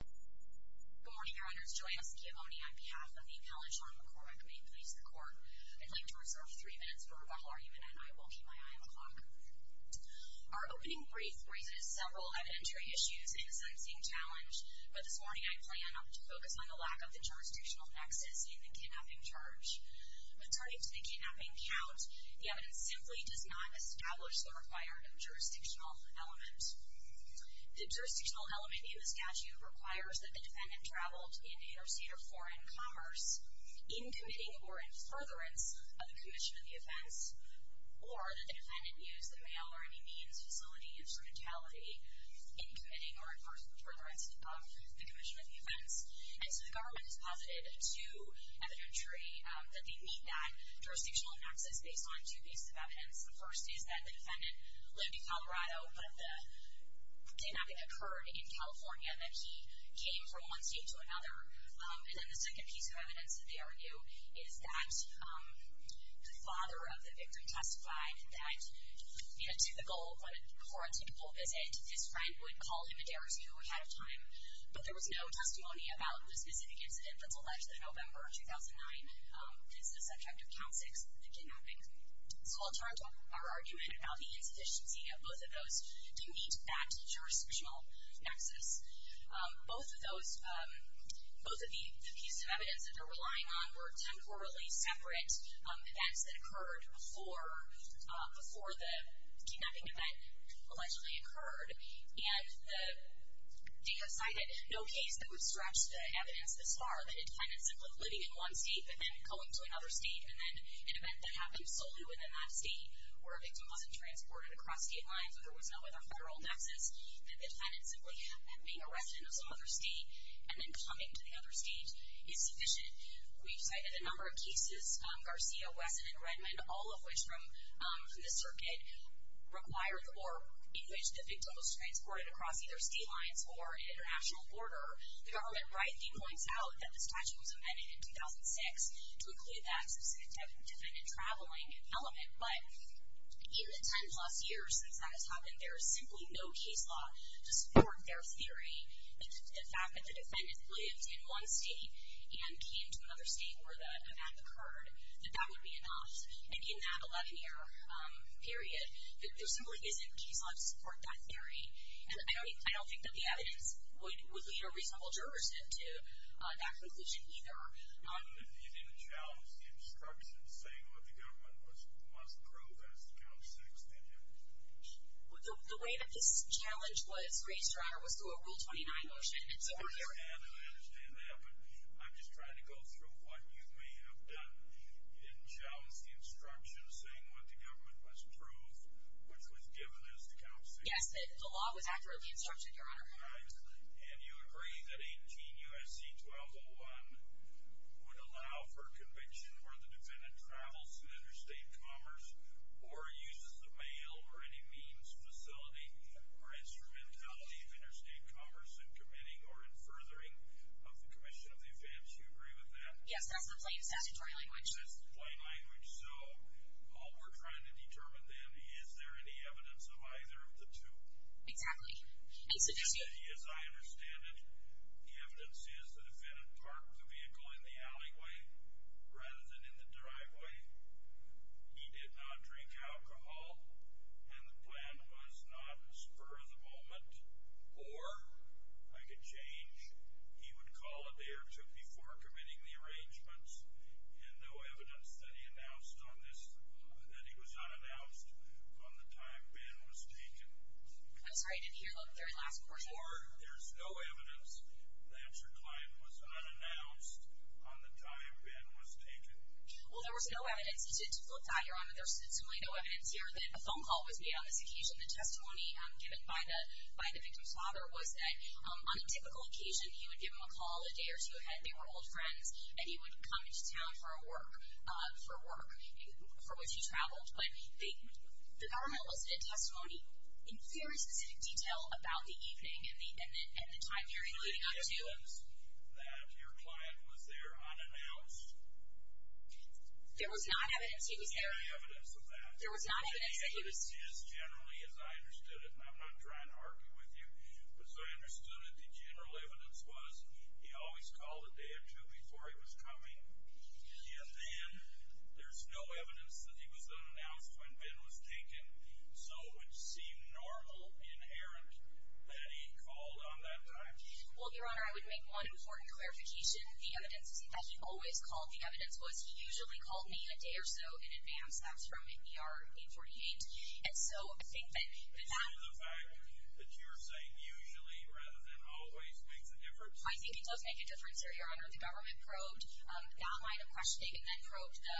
Good morning, Your Honors. Joanne Sciamone on behalf of the Appellate Shawn McCormack Maine Police Department. I'd like to reserve three minutes for rebuttal argument and I will keep my eye on the clock. Our opening brief raises several evidentiary issues and the sentencing challenge, but this morning I plan to focus on the lack of the jurisdictional nexus in the kidnapping charge. According to the kidnapping count, the evidence simply does not establish the required jurisdictional element. The jurisdictional element in the statute requires that the defendant traveled in interstate or foreign commerce in committing or in furtherance of the commission of the offense, or that the defendant used the mail or any means, facility, instrumentality, in committing or in furtherance of the commission of the offense. And so the government has posited to evidentiary that they need that jurisdictional nexus based on two pieces of evidence. The first is that the defendant lived in Colorado, but the kidnapping occurred in California, and that he came from one state to another. And then the second piece of evidence that they argue is that the father of the victim testified that, in a typical, for a typical visit, his friend would call him a day or two ahead of time, but there was no testimony about the specific incident that's alleged that November of 2009 is the subject of count six of the kidnapping. So I'll turn to our argument about the insufficiency of both of those to meet that jurisdictional nexus. Both of those, both of the pieces of evidence that they're relying on were temporarily separate events that occurred before the kidnapping event allegedly occurred. And the DA cited no case that would stretch the evidence this far, that a defendant simply living in one state, but then going to another state, and then an event that happened solely within that state where a victim wasn't transported across state lines or there was no other federal nexus, that the defendant simply being arrested in some other state and then coming to the other state is sufficient. We've cited a number of cases, Garcia, Wesson, and Redmond, all of which from the circuit required or in which the victim was transported across either state lines or international border. The government rightly points out that the statute was amended in 2006 to include that specific defendant traveling element. But in the 10-plus years since that has happened, there is simply no case law to support their theory that the fact that the defendant lived in one state and came to another state where the event occurred, that that would be enough. And in that 11-year period, there simply isn't case law to support that theory. And I don't think that the evidence would lead a reasonable jurors into that conclusion either. You didn't challenge the instructions saying what the government must prove as to Count 6, did you? The way that this challenge was raised, Your Honor, was through a Rule 29 motion. I understand that, but I'm just trying to go through what you may have done. You didn't challenge the instructions saying what the government must prove, which was given as to Count 6. Yes, the law was accurately instructed, Your Honor. And you agree that 18 U.S.C. 1201 would allow for conviction where the defendant travels through interstate commerce or uses the mail or any means, facility, or instrumentality of interstate commerce in committing or in furthering of the commission of the offense. Do you agree with that? Yes, that's the plain language. That's the plain language. So all we're trying to determine then, is there any evidence of either of the two? Exactly. As a judge. As I understand it, the evidence is the defendant parked the vehicle in the alleyway rather than in the driveway. He did not drink alcohol, and the plan was not spur of the moment. Or? I could change. He would call a day or two before committing the arrangements, and no evidence that he announced on this that he was unannounced on the time Ben was taken. I'm sorry, I didn't hear the very last portion. Or there's no evidence that your client was unannounced on the time Ben was taken. Well, there was no evidence. You should flip that, Your Honor. There's seemingly no evidence here that a phone call was made on this occasion. The testimony given by the victim's father was that on a typical occasion, he would give him a call a day or two ahead, they were old friends, and he would come into town for work, for which he traveled. But the government listed a testimony in very specific detail about the evening and the time period leading up to. Is there any evidence that your client was there unannounced? There was not evidence he was there. Is there any evidence of that? The evidence is generally as I understood it, and I'm not trying to argue with you, but as I understood it, the general evidence was he always called a day or two before he was coming, yet then there's no evidence that he was unannounced when Ben was taken. So it would seem normal, inherent, that he called on that time. Well, Your Honor, I would make one important clarification. The evidence that he always called, the evidence was he usually called me a day or so in advance. That's from NPR 848. And so I think that that— And so the fact that you're saying usually rather than always makes a difference? I think it does make a difference, Your Honor. The government probed that line of questioning and then probed the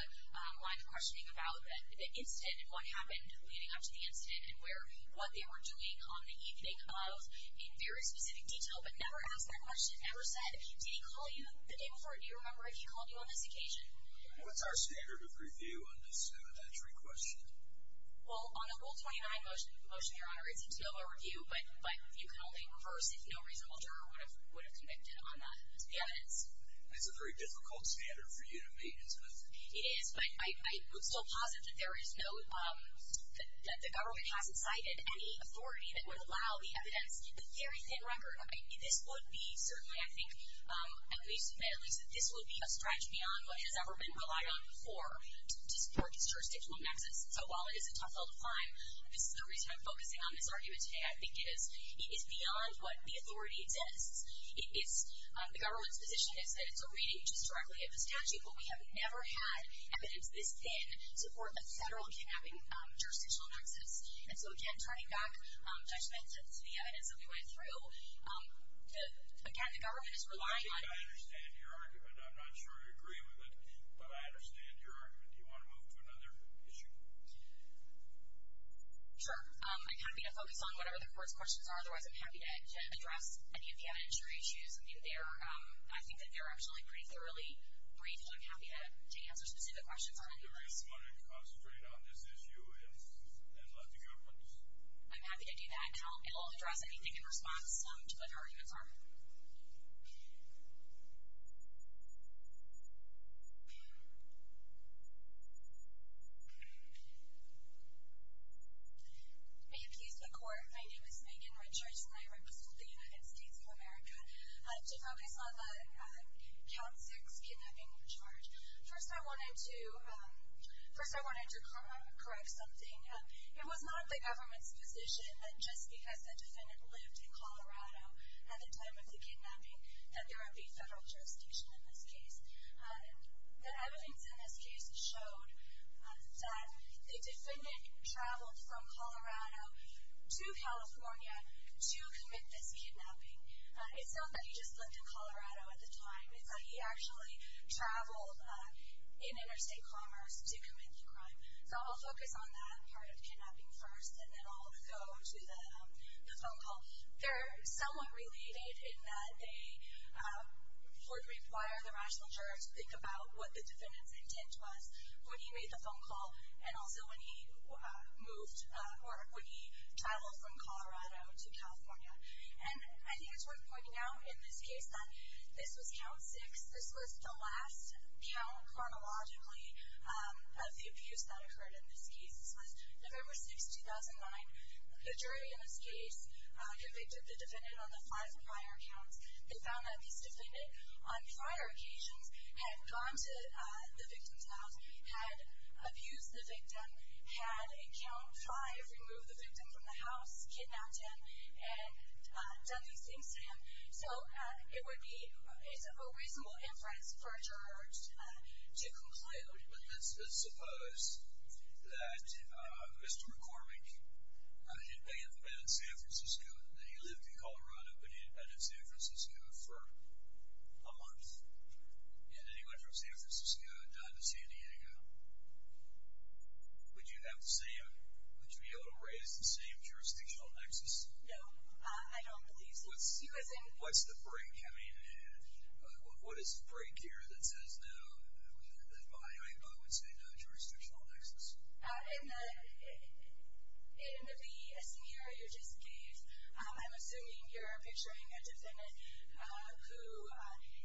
line of questioning about the incident and what happened leading up to the incident and what they were doing on the evening of in very specific detail but never asked that question, never said, did he call you the day before? Do you remember if he called you on this occasion? What's our standard of review on this evidentiary question? Well, on the Rule 29 motion, Your Honor, it seems to know our review, but you can only reverse if no reasonable juror would have convicted on that evidence. That's a very difficult standard for you to meet, isn't it? It is, but I would still posit that there is no— that the government hasn't cited any authority that would allow the evidence, the very thin record. This would be certainly, I think, at least— this would be a stretch beyond what has ever been relied on before to support this jurisdictional nexus. So while it is a tough hill to climb, this is the reason I'm focusing on this argument today. I think it is beyond what the authority exists. The government's position is that it's a reading just directly of the statute, but we have never had evidence this thin to support the federal kidnapping jurisdictional nexus. And so, again, turning back judgment to the evidence that we went through, again, the government is relying on— I think I understand your argument. I'm not sure I agree with it, but I understand your argument. Do you want to move to another issue? Sure. I'm happy to focus on whatever the court's questions are. Otherwise, I'm happy to address any of the evidentiary issues. I think that they're actually pretty thoroughly briefed, and I'm happy to answer specific questions on any of those. The reason I'm going to concentrate on this issue is I'd like to hear from you. I'm happy to do that, and I'll address anything in response to whatever arguments are. May it please the Court. My name is Megan Richards, and I represent the United States of America. I'd like to focus on the Count 6 kidnapping charge. First, I wanted to correct something. It was not the government's position that just because the defendant lived in Colorado at the time of the kidnapping that there would be federal jurisdiction in this case. The evidence in this case showed that the defendant traveled from Colorado to California to commit this kidnapping. It's not that he just lived in Colorado at the time. It's that he actually traveled in interstate commerce to commit the crime. So I'll focus on that part of kidnapping first, and then I'll go to the phone call. They're somewhat related in that they would require the rational juror to think about what the defendant's intent was when he made the phone call and also when he moved or when he traveled from Colorado to California. And I think it's worth pointing out in this case that this was Count 6. This was the last count chronologically of the abuse that occurred in this case. This was November 6, 2009. The jury in this case convicted the defendant on the five prior counts. They found that this defendant on prior occasions had gone to the victim's house, had abused the victim, had in Count 5 removed the victim from the house, kidnapped him, and done these things to him. So it would be a reasonable inference for a judge to conclude. But let's suppose that Mr. McCormick had been in San Francisco and that he lived in Colorado, but he had been in San Francisco for a month. And he went from San Francisco and died in San Diego. Would you be able to raise the same jurisdictional nexus? No, I don't believe so. What's the break? I mean, what is the break here that says no, that I would say no jurisdictional nexus? In the scenario you just gave, I'm assuming you're picturing a defendant who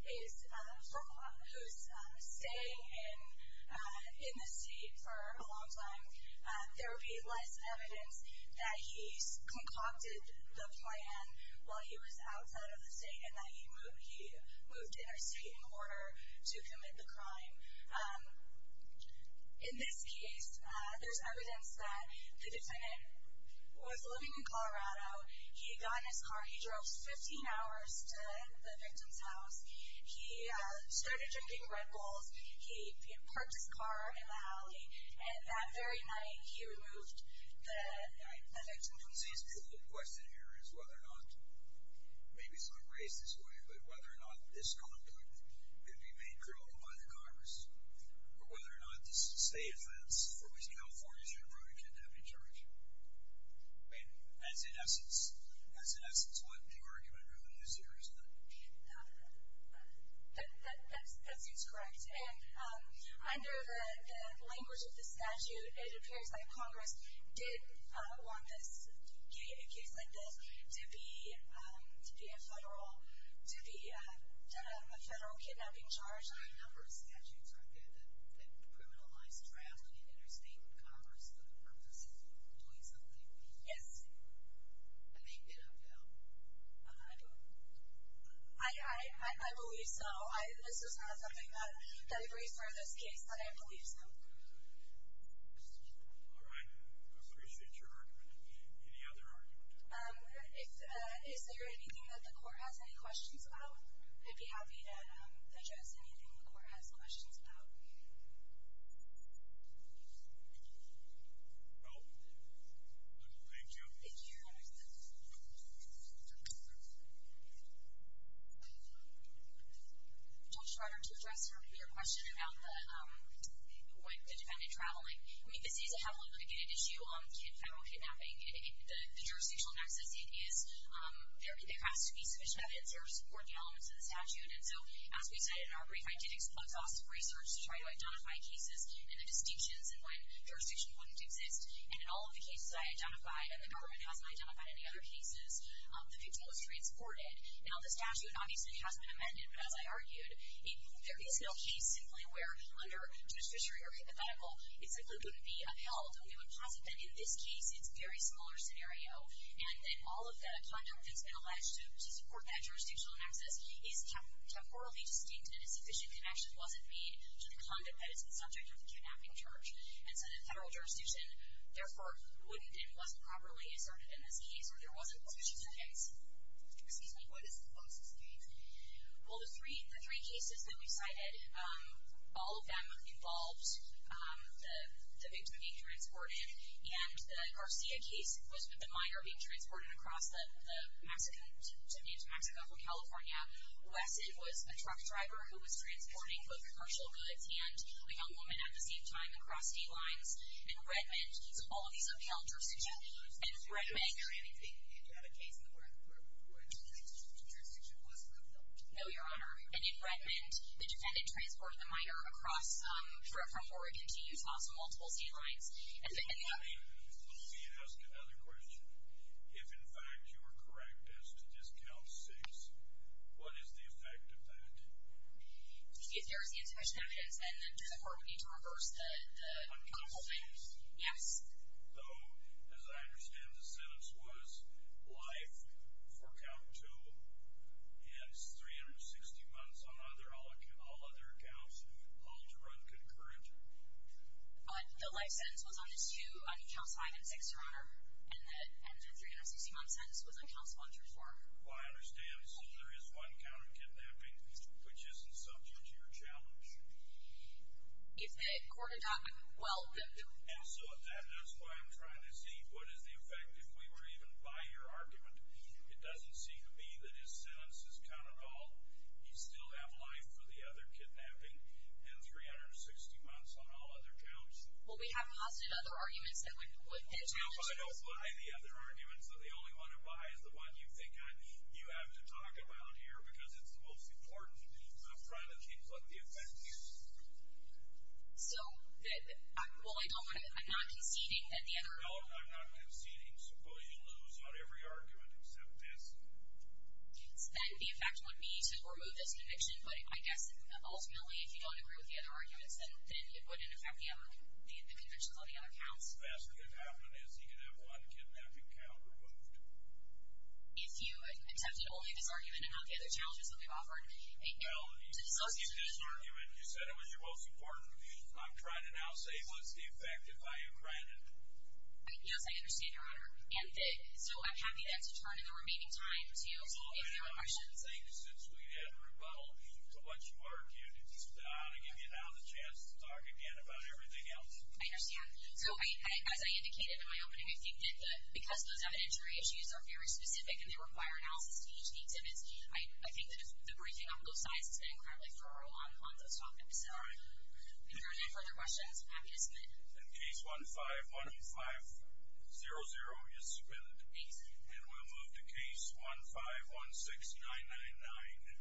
is staying in the state for a long time. There would be less evidence that he concocted the plan while he was outside of the state and that he moved interstate in order to commit the crime. In this case, there's evidence that the defendant was living in Colorado. He got in his car. He drove 15 hours to the victim's house. He started drinking Red Bulls. He parked his car in the alley, and that very night he removed the victim from the house. It seems to me the question here is whether or not, maybe it's not raised this way, but whether or not this conduct could be made criminal by the Congress, or whether or not this is a state offense for which California should have brought a kid to heavy charge. I mean, that's in essence what the argument really is here, isn't it? That seems correct. And under the language of the statute, it appears that Congress did want a case like this to be a federal kidnapping charge. There are a number of statutes out there that criminalize trafficking in interstate commerce for the purpose of doing something. Yes. I think it upheld. I believe so. This is not something that I've raised for this case, but I believe so. All right. I appreciate your argument. Any other argument? Is there anything that the court has any questions about? I'd be happy to address anything the court has questions about. Well, thank you. Thank you. Judge Trotter. Judge Trotter, to address your question about the defendant traveling, I mean, this is a heavily litigated issue on federal kidnapping. The jurisdictional nexus is there has to be sufficient evidence or supporting elements of the statute. And so, as we said in our brief, I did exhaustive research to try to identify cases and the distinctions in when jurisdiction wouldn't exist. And in all of the cases I identified, and the government hasn't identified any other cases, the victim was transported. Now, the statute obviously has been amended, but as I argued, there is no case simply where under judiciary or hypothetical it simply wouldn't be upheld. And in this case, it's a very similar scenario. And then all of the conduct that's been alleged to support that jurisdictional nexus is temporally distinct and a sufficient connection wasn't made to the conduct that is the subject of the kidnapping charge. And so the federal jurisdiction, therefore, wouldn't and wasn't properly asserted in this case or there wasn't sufficient evidence. Excuse me. What is the most distinct? Well, the three cases that we cited, all of them involved the victim being transported. And the Garcia case was the minor being transported across to Mexico from California. Wesson was a truck driver who was transporting both commercial goods and a young woman at the same time across state lines. And Redmond, all of these upheld jurisdiction. And in Redmond, the defendant transported the minor across from Oregon to Utah, so multiple state lines. Let me ask another question. If, in fact, you were correct as to this Cal 6, what is the effect of that? If there is insufficient evidence, then the court would need to reverse the holding. Yes. So, as I understand, the sentence was life for count two and 360 months on all other counts, all to run concurrent? The life sentence was on counts five and six, Your Honor, and the 360-month sentence was on counts one through four. Well, I understand. So, there is one count of kidnapping, which isn't subject to your challenge. If the court adopted, well, then. And so, that is why I'm trying to see what is the effect if we were even by your argument. It doesn't seem to me that his sentence is count at all. You still have life for the other kidnapping and 360 months on all other counts. Well, we have positive other arguments that would fit. I don't buy the other arguments. The only one I buy is the one you think you have to talk about here because it's the most important. I'm trying to think what the effect is. So, well, I don't want to. I'm not conceding that the other. No, I'm not conceding. Suppose you lose on every argument except this. Then the effect would be to remove this conviction, but I guess ultimately if you don't agree with the other arguments, then it wouldn't affect the convictions on the other counts. The best thing that could happen is he could have one kidnapping count removed. If you accepted only this argument and not the other challenges that we've offered. Well, you said it was your most important. I'm trying to now say what's the effect if I have granted it. Yes, I understand, Your Honor. So, I'm happy to have to turn in the remaining time to you if you have questions. I think since we had rebuttal to what you argued, it's just that I ought to give you now the chance to talk again about everything else. I understand. So, as I indicated in my opening, I think that because those evidentiary issues are very specific and they require analysis to each of the exhibits, I think that the briefing on both sides has been incredibly thorough on those topics. All right. If there are no further questions, I'm happy to submit. Case 15-1500 is submitted. Thanks. And we'll move to case 15-16999.